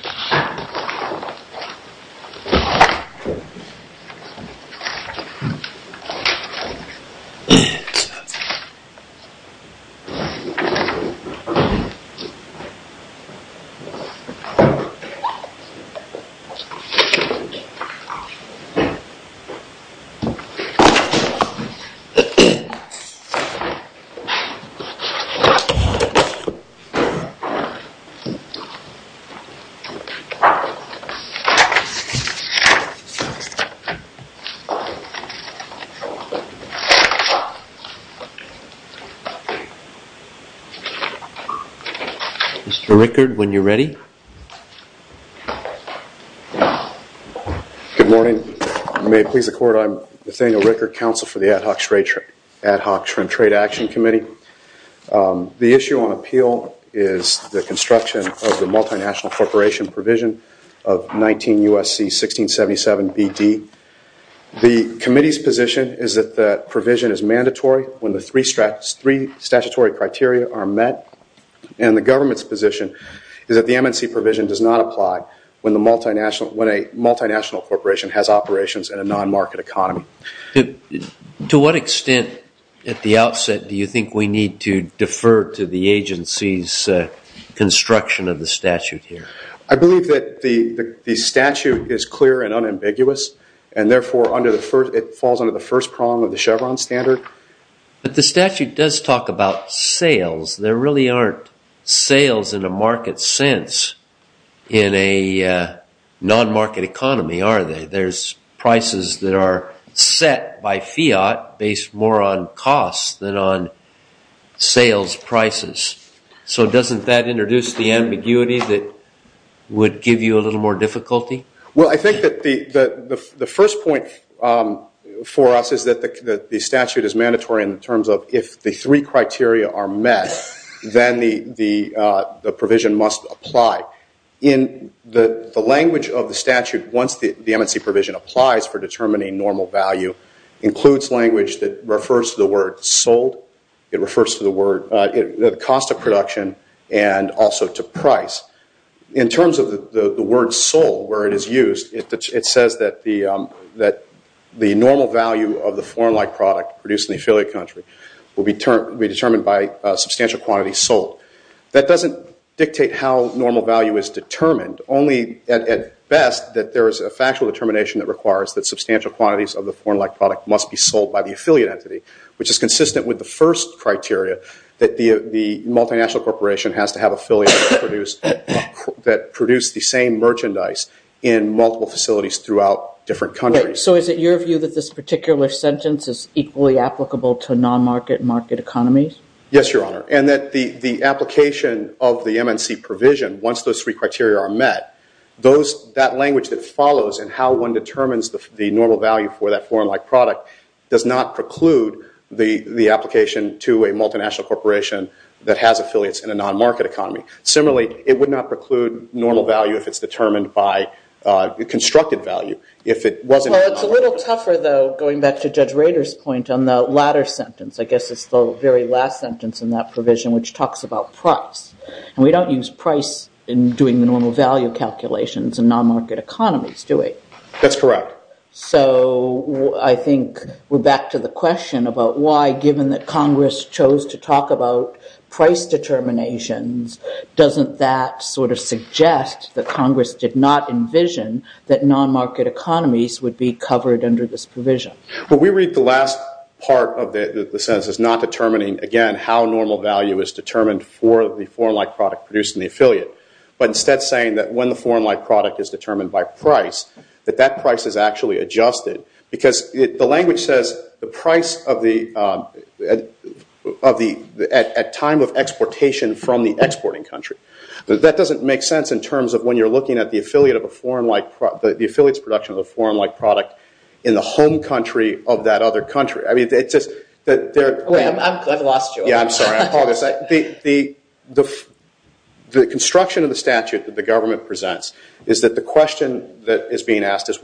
Home of which are Mr. Rickard, when you're ready. Good morning. May it please the court, I'm Nathaniel Rickard, counsel for the Ad Hoc Trade Action Committee. The issue on appeal is the multinational corporation provision of 19 U.S.C. 1677 B.D. The committee's position is that the provision is mandatory when the three statutory criteria are met and the government's position is that the MNC provision does not apply when a multinational corporation has operations in a non-market economy. To what extent at the outset do you think we need to defer to the agency's construction of the statute here? I believe that the statute is clear and unambiguous and therefore falls under the first prong of the Chevron standard. But the statute does talk about sales. There really aren't sales in a market sense in a non-market economy, are there? There's prices that are set by fiat based more on cost than on sales prices. So doesn't that introduce the ambiguity that would give you a little more difficulty? Well, I think that the first point for us is that the statute is mandatory in terms of if the three criteria are met, then the provision must apply. In the language of the statute, once the MNC provision applies for determining normal value, includes language that refers to the word sold. It refers to the cost of production and also to price. In terms of the word sold, where it is used, it says that the normal value of the foreign-like product produced in the affiliate country will be determined by a substantial quantity sold. That doesn't dictate how normal value is determined. Only, at best, that there is a factual determination that requires that substantial quantities of the foreign-like product must be sold by the affiliate entity, which is consistent with the first criteria that the multinational corporation has to have affiliates that produce the same merchandise in multiple facilities throughout different countries. So is it your view that this particular sentence is equally applicable to non-market and market economies? Yes, Your Honor. And that the application of the MNC provision, once those three criteria are met, that language that follows in how one determines the normal value for that foreign-like product does not preclude the application to a multinational corporation that has affiliates in a non-market economy. Similarly, it would not preclude normal value if it's determined by constructed value. Well, it's a little tougher, though, going back to Judge Rader's point on the latter sentence. I guess it's the very last sentence in that provision, which talks about price. And we don't use price in doing the normal value calculations in non-market economies, do we? That's correct. So I think we're back to the question about why, given that Congress chose to not, that Congress did not envision that non-market economies would be covered under this provision. Well, we read the last part of the sentence as not determining, again, how normal value is determined for the foreign-like product produced in the affiliate, but instead saying that when the foreign-like product is determined by price, that that price is actually adjusted. Because the language says the price of the at time of exportation from the exporting country. That doesn't make sense in terms of when you're looking at the affiliates production of a foreign-like product in the home country of that other country. I've lost you. Yeah, I'm sorry. I apologize. The construction of the statute that the government presents is that the question that is being asked is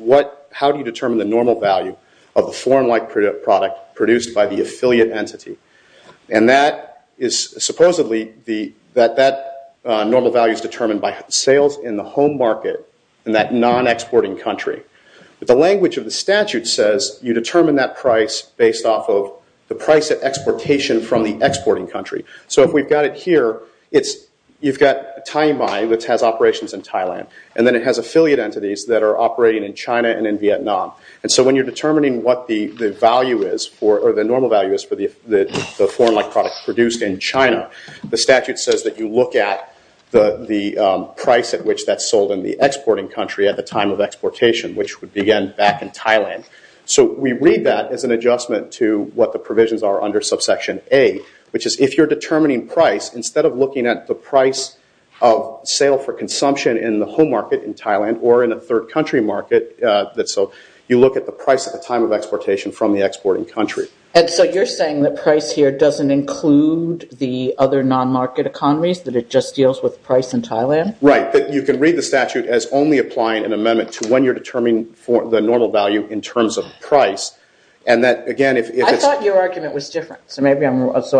how do you determine the normal value of the foreign-like product produced by the affiliate entity? And that is supposedly that normal value is determined by sales in the home market in that non-exporting country. But the language of the statute says you determine that price based off of the price at exportation from the exporting country. So if we've got it here, you've got operations in Thailand, and then it has affiliate entities that are operating in China and in Vietnam. And so when you're determining what the normal value is for the foreign-like product produced in China, the statute says that you look at the price at which that's sold in the exporting country at the time of exportation, which would begin back in Thailand. So we read that as an adjustment to what the provisions are under subsection A, which is if you're determining price, instead of looking at the price of sale for consumption in the home market in Thailand or in a third country market, you look at the price at the time of exportation from the exporting country. And so you're saying that price here doesn't include the other non-market economies, that it just deals with price in Thailand? Right. You can read the statute as only applying an amendment to when you're determining the normal value in terms of price. And that, again, if it's... I thought your argument was different. So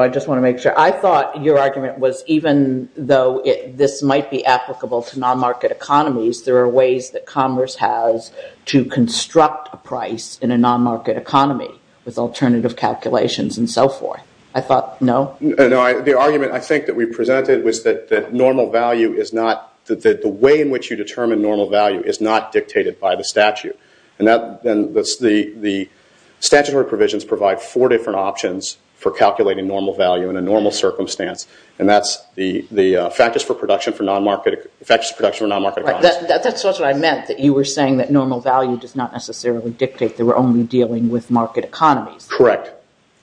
I just want to make sure. I thought your argument was even though this might be applicable to non-market economies, there are ways that commerce has to construct a price in a non-market economy with alternative calculations and so forth. I thought, no? No. The argument I think that we presented was that normal value is not, that the way in which you determine normal value is not dictated by the statute. The statutory provisions provide four different options for calculating normal value in a normal circumstance. And that's the factors for production for non-market economies. That's what I meant, that you were saying that normal value does not necessarily dictate that we're only dealing with market economies. Correct.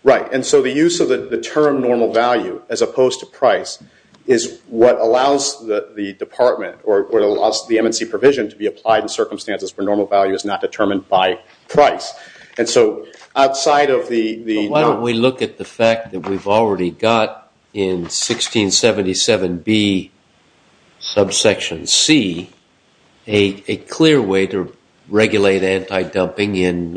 Right. And so the use of the term normal value as opposed to price is what allows the department or the MNC provision to be applied in circumstances where normal value is not determined by price. And so outside of the... Why don't we look at the fact that we've already got in 1677B subsection C a clear way to regulate anti-dumping in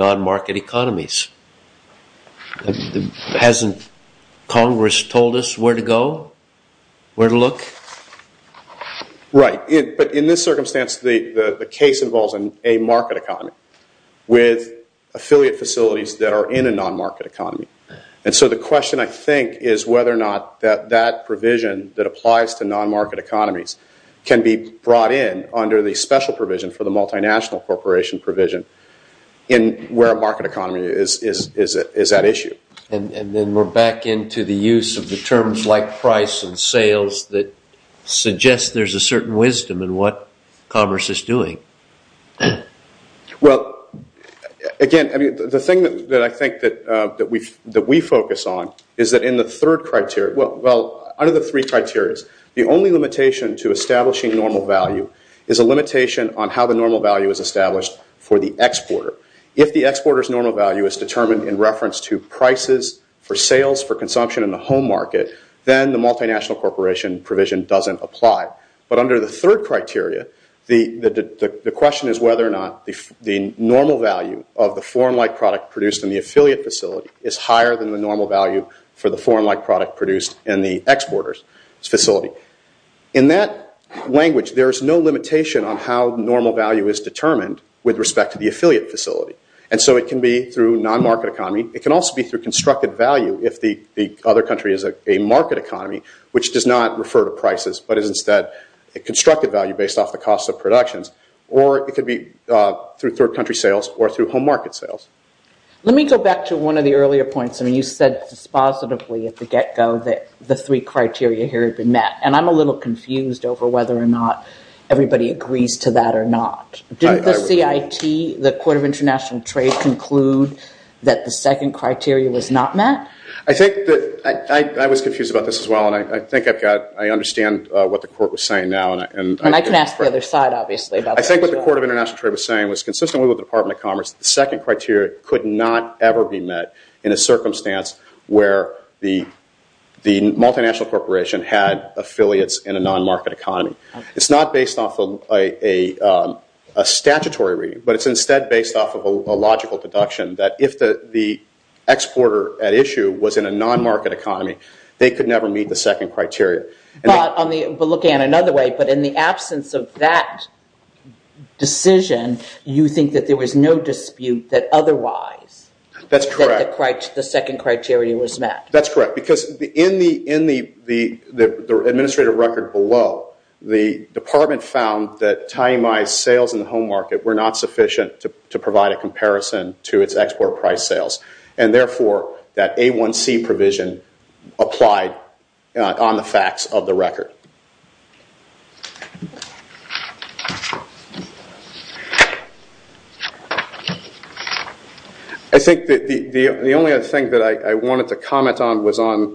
Congress told us where to go, where to look? Right. But in this circumstance the case involves a market economy with affiliate facilities that are in a non-market economy. And so the question I think is whether or not that provision that applies to non-market economies can be brought in under the special provision for the multinational corporation provision in where a market economy is at issue. And then we're back into the use of the terms like price and sales that suggest there's a certain wisdom in what commerce is doing. Again, the thing that I think that we focus on is that in the third criteria... Well, under the three criteria, the only limitation to the exporter. If the exporter's normal value is determined in reference to prices for sales, for consumption in the home market, then the multinational corporation provision doesn't apply. But under the third criteria, the question is whether or not the normal value of the foreign-like product produced in the affiliate facility is higher than the normal value for the foreign-like product produced in the exporter's facility. In that And so it can be through non-market economy. It can also be through constructed value if the other country is a market economy, which does not refer to prices, but is instead a constructed value based off the cost of productions. Or it could be through third country sales or through home market sales. Let me go back to one of the earlier points. I mean, you said dispositively at the get-go that the three criteria here have been met. And I'm a little confused over whether or not Didn't the CIT, the Court of International Trade, conclude that the second criteria was not met? I think that... I was confused about this as well, and I think I've got... I understand what the court was saying now. And I can ask the other side, obviously, about that as well. I think what the Court of International Trade was saying was, consistently with the Department of Commerce, the second criteria could not ever be met in a circumstance where the multinational corporation had affiliates in a non-market economy. It's not based off a statutory reading, but it's instead based off of a logical deduction that if the exporter at issue was in a non-market economy, they could never meet the second criteria. But looking at it another way, but in the absence of that decision, you think that there was no dispute that otherwise... That's correct. ...that the second criteria was met? That's correct. Because in the administrative record below, the department found that tiny-mized sales in the home market were not sufficient to provide a comparison to its export price sales. And therefore, that A1C provision applied on the facts of the record. I think the only other thing that I wanted to comment on was on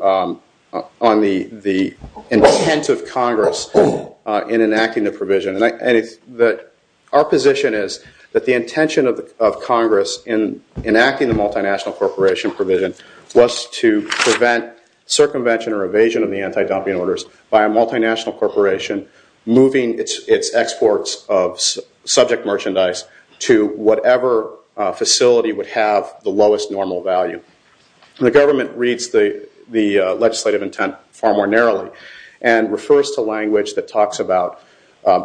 the intent of Congress in enacting the provision. And our position is that the intention of Congress in enacting the multinational corporation provision was to prevent circumvention or evasion of the anti-dumping orders by a multinational corporation moving its exports of subject merchandise to whatever facility would have the lowest normal value. The government reads the legislative intent far more narrowly and refers to language that talks about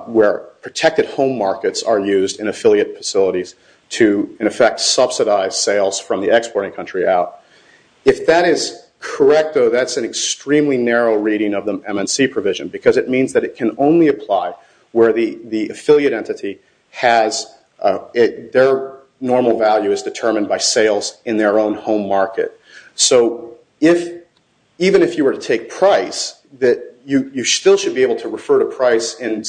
where protected home markets are used in affiliate facilities to in effect subsidize sales from the exporting country out. If that is correct, though, that's an extremely narrow reading of the MNC provision because it means that it can only apply where the affiliate entity has... Their normal value is determined by sales in their own home market. So even if you were to take price, you still should be able to refer to price in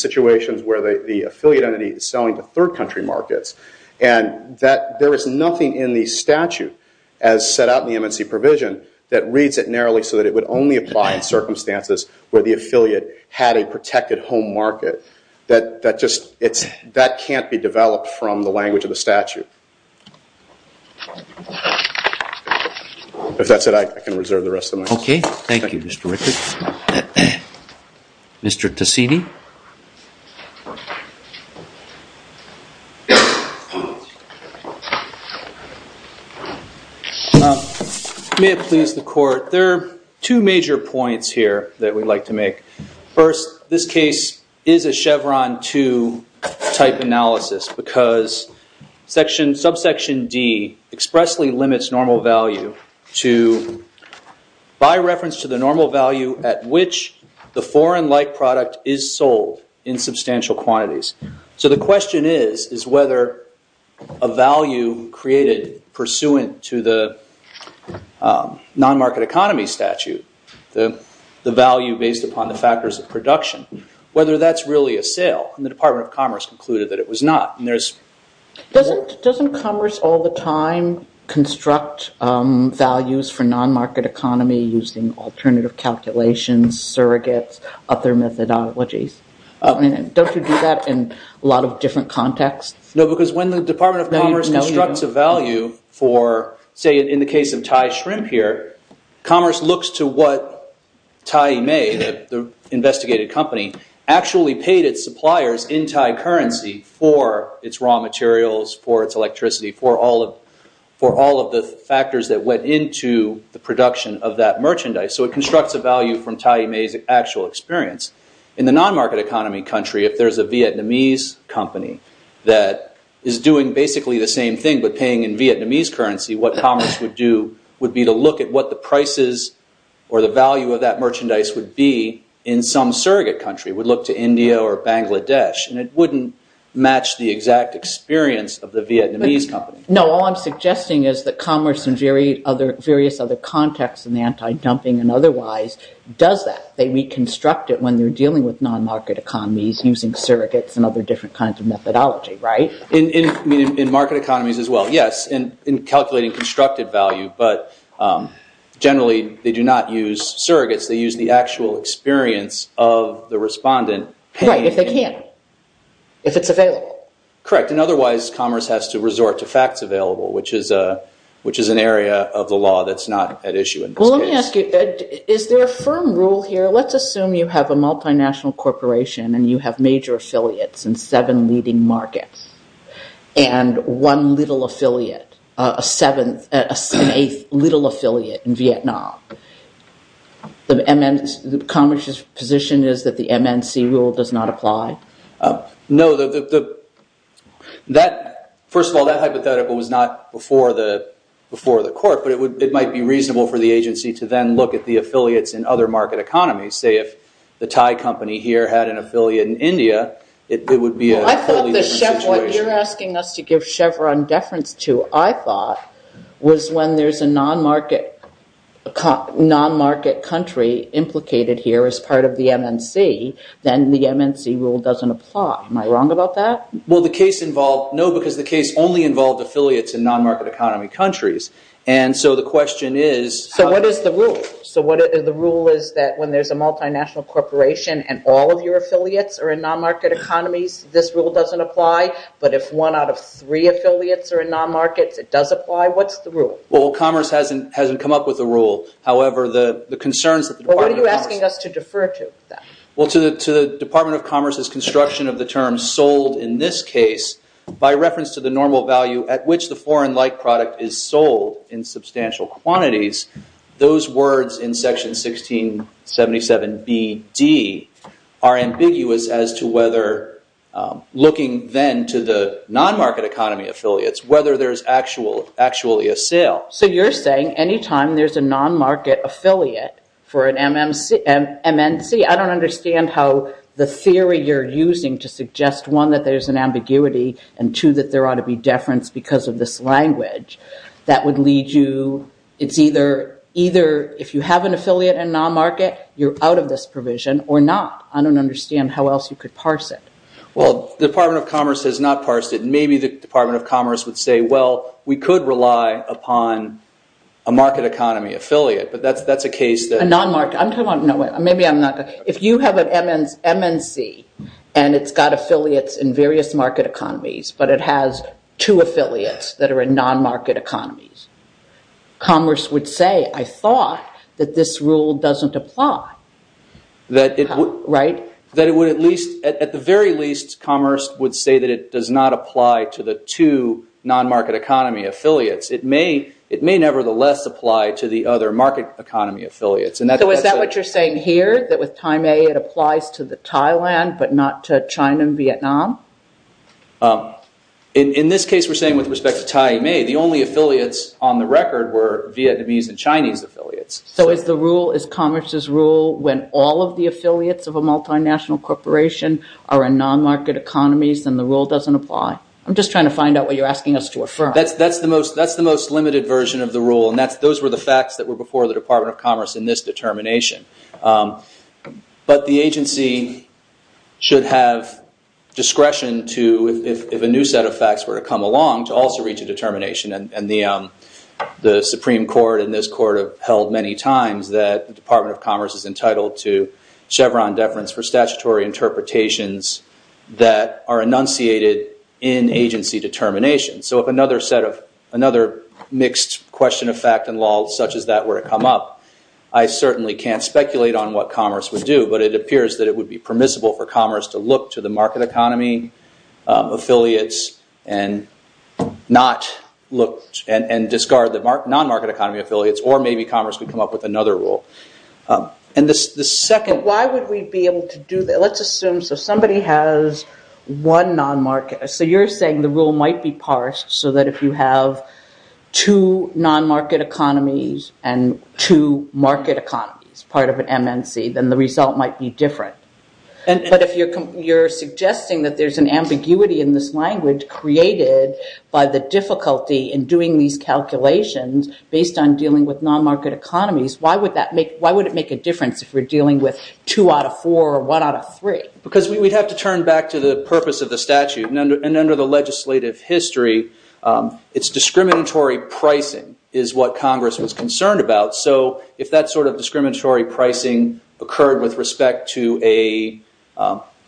that there is nothing in the statute as set out in the MNC provision that reads it narrowly so that it would only apply in circumstances where the affiliate had a protected home market. That just... That can't be developed from the language of the statute. If that's it, I can reserve the rest of my time. Okay. Thank you, Mr. Rickert. Mr. Tasini? May it please the court, there are two major points here that we'd like to make. First, this case is a Chevron 2 type analysis because subsection D expressly limits normal value to by reference to the normal value at which the foreign-like product is sold in substantial quantities. So the question is, is whether a value created pursuant to the non-market economy statute, the value based upon the factors of production, whether that's really a sale. And the Department of Commerce concluded that it was not. Doesn't Commerce all the time construct values for non-market economy using alternative calculations, surrogates, other methodologies? Don't you do that in a lot of different contexts? No, because when the Department of Commerce constructs a value for say in the case of Thai Shrimp here, Commerce looks to what the investigated company actually paid its suppliers in Thai currency for its raw materials, for its electricity, for all of the factors that went into the production of that merchandise. So it constructs a value from Thai May's actual experience. In the non-market economy country, if there's a Vietnamese company that is doing basically the same thing but paying in Vietnamese currency, what Commerce would do is look at what the prices or the value of that merchandise would be in some surrogate country, would look to India or Bangladesh. And it wouldn't match the exact experience of the Vietnamese company. No, all I'm suggesting is that Commerce in various other contexts in the anti-dumping and otherwise does that. They reconstruct it when they're dealing with non-market economies using surrogates and other different kinds of methodology, right? In market economies as well, yes, in calculating constructed value, but generally they do not use surrogates. They use the actual experience of the respondent. Right, if they can. If it's available. Correct, and otherwise Commerce has to resort to facts available, which is an area of the law that's not at issue in this case. Well let me ask you, is there a firm rule here? Let's assume you have a multinational corporation and you have major affiliates in seven leading markets and one little affiliate, a seventh, an eighth little affiliate in Vietnam. The Commerce's position is that the MNC rule does not apply? No, first of all, that hypothetical was not before the court, but it might be reasonable for the agency to then look at the affiliates in other market economies. Say if the Thai company here had an affiliate in India, it would be a totally different situation. What you're asking us to give Chevron deference to, I thought, was when there's a non-market country implicated here as part of the MNC, then the MNC rule doesn't apply. Am I wrong about that? No, because the case only involved affiliates in non-market economy countries. So what is the rule? So the rule is that when there's a multinational corporation and all of your affiliates are in non-market economies, this rule doesn't apply, but if one out of three affiliates are in non-markets, it does apply. What's the rule? Well Commerce hasn't come up with a rule, however the concerns that the Department of Commerce... in this case, by reference to the normal value at which the foreign-like product is sold in substantial quantities, those words in Section 1677 B.D. are ambiguous as to whether looking then to the non-market economy affiliates, whether there's actually a sale. So you're saying any time there's a non-market affiliate for an MNC, I don't understand how the theory you're using to suggest, one, that there's an ambiguity and two, that there ought to be deference because of this language, that would lead you... it's either if you have an affiliate in non-market, you're out of this provision or not. I don't understand how else you could parse it. Well, the Department of Commerce has not parsed it. Maybe the Department of Commerce would say, well, we could rely upon a market economy affiliate, but that's a case that... A non-market, I'm talking about... if you have an MNC and it's got affiliates in various market economies, but it has two affiliates that are in non-market economies, Commerce would say, I thought that this rule doesn't apply. That it would at least, at the very least, Commerce would say that it does not apply to the two non-market economy affiliates. It may nevertheless apply to the other market economy affiliates. So is that what you're saying here? That with Tai Mei it applies to the Thailand, but not to China and Vietnam? In this case we're saying with respect to Tai Mei, the only affiliates on the record were Vietnamese and Chinese affiliates. So is Commerce's rule when all of the affiliates of a multinational corporation are in non-market economies and the rule doesn't apply? I'm just trying to find out what you're asking us to affirm. That's the most limited version of the rule and those were the facts that were before the Department of Commerce in this determination. But the agency should have discretion to, if a new set of facts were to come along, to also reach a determination and the Chevron deference for statutory interpretations that are enunciated in agency determinations. So if another mixed question of fact and law such as that were to come up, I certainly can't speculate on what Commerce would do, but it appears that it would be permissible for Commerce to look to the market economy affiliates and not look and discard the non-market economies. So you're saying the rule might be parsed so that if you have two non-market economies and two market economies, part of an MNC, then the result might be different. But if you're suggesting that there's an ambiguity in this language created by the difficulty in doing these calculations based on dealing with non-market economies, why would it make a difference if we're dealing with two out of four or one out of three? Because we'd have to turn back to the purpose of the statute and under the legislative history, it's discriminatory pricing is what Congress was concerned about. So if that sort of discriminatory pricing occurred with respect to a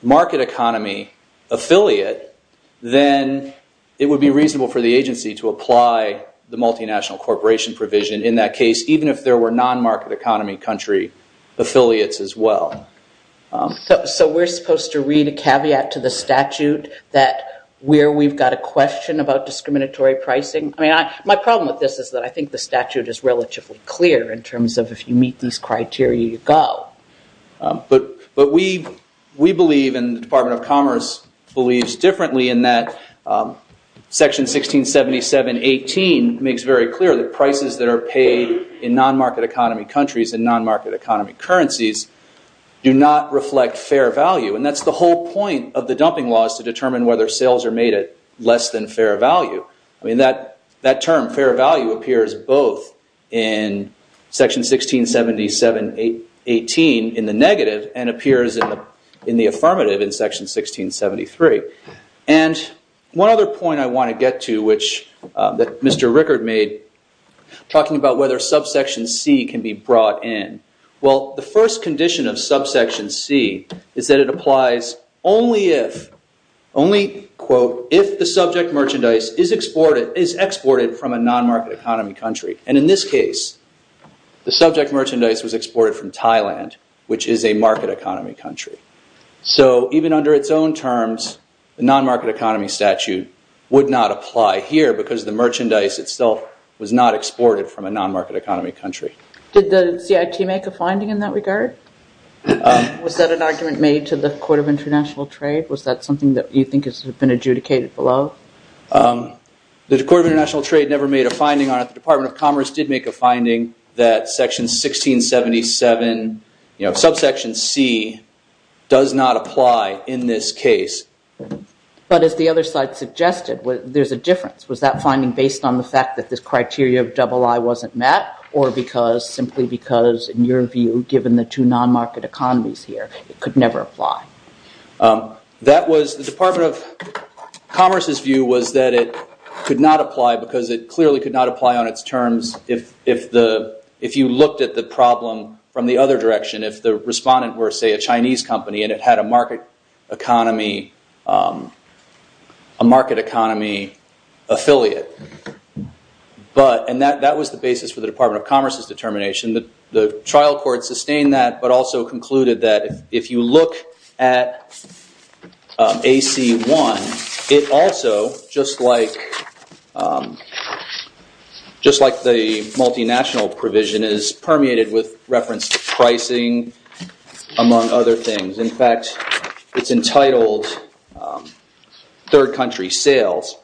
market economy affiliate, then it would be reasonable for the agency to apply the multinational corporation provision in that case, even if there were non-market economy country affiliates as well. So we're supposed to read a caveat to the statute that where we've got a question about discriminatory pricing? I mean, my problem with this is that I think the statute is relatively clear in terms of if you meet these criteria, you go. But we believe, and the Department of Commerce believes differently in that Section 1677-18 makes very clear that prices that are paid in non-market economy countries and non-market economy currencies do not reflect fair value. And that's the whole point of the dumping laws to determine whether sales are made at less than fair value. I mean, that term fair value appears both in Section 1677-18 in the negative and appears in the affirmative in Section 1673. And one other point I want to get to which Mr. Rickard made talking about whether subsection C can be brought in. Well, the first condition of subsection C is that it applies only if the subject merchandise is exported from a non-market economy country. And in this case, the subject merchandise was exported from Thailand, which is a market economy country. So even under its own terms, the non-market economy statute would not apply here because the merchandise itself was not exported from a non-market economy country. Did the CIT make a finding in that regard? Was that an argument made to the Court of International Trade? Was that something that you think has been adjudicated below? The Court of International Trade never made a finding on it. The Department of Commerce did make a finding that Section 1677, you know, subsection C does not apply in this case. But as the other side suggested, there's a difference. Was that finding based on the fact that this criteria of double I wasn't met or simply because, in your view, given the two non-market economies here, it could never apply? The Department of Commerce's view was that it could not apply because it clearly could not apply on its terms if you looked at the problem from the other direction, if the respondent were, say, a Chinese company and it had a market economy affiliate. And that was the basis for the Department of Commerce's determination. The trial court sustained that but also concluded that if you look at AC1, it also, just like the multinational provision, is permeated with reference to pricing, among other things. In fact, it's entitled third country sales.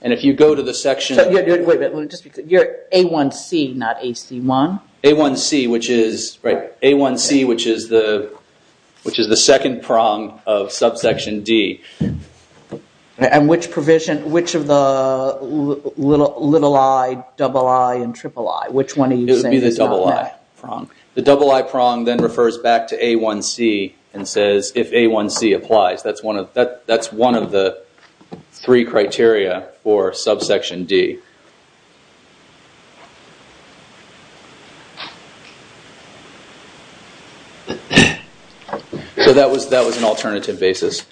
And if you go to the section... Wait a minute. You're A1C, not AC1? A1C, which is the second prong of subsection D. And which provision, which of the little I, double I, and triple I, which one are you saying is not that prong? And says, if A1C applies, that's one of the three criteria for subsection D. So that was an alternative basis.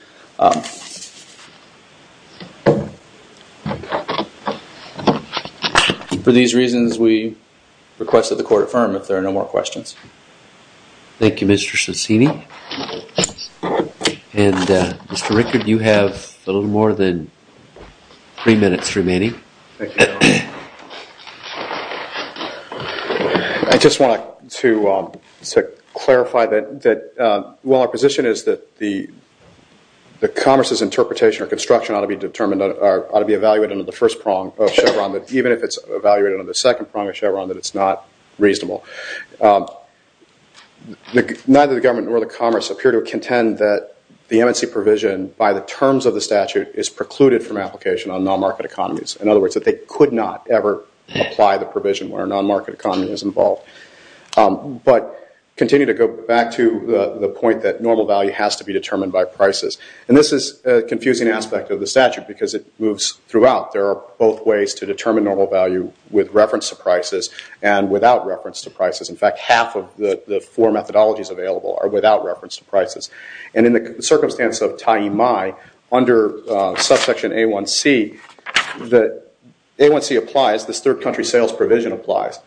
For these reasons, we have no more questions. And Mr. Rickard, you have a little more than three minutes remaining. I just want to clarify that while our position is that the Commerce's interpretation or construction ought to be evaluated under the first prong of Chevron, even if it's evaluated under the second prong of Chevron, that it's not reasonable. Neither the government nor the Commerce appear to contend that the MNC provision, by the terms of the statute, is precluded from application on non-market economies. In other words, that they could not ever apply the provision where a non-market economy is involved. But continue to go back to the point that normal value has to be determined by prices. And this is a confusing aspect of the statute because it moves throughout. There are both ways to determine normal value with reference to prices and without reference to prices. In fact, half of the four methodologies available are without reference to prices. And in the circumstance of Taimai, under subsection A1C, A1C applies, this third country sales provision applies,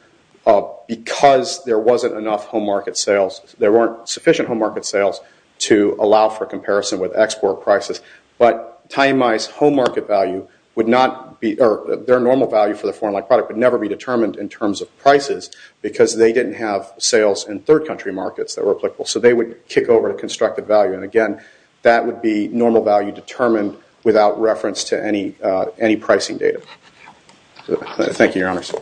because there wasn't enough home market sales, there weren't sufficient home market sales to allow for comparison with export prices. But Taimai's home market value would not be, their normal value for the foreign like product would never be determined in terms of prices because they didn't have sales in third country markets that were applicable. So they would kick over to constructed value. And again, that would be normal value determined without reference to any pricing data. Thank you, your honors.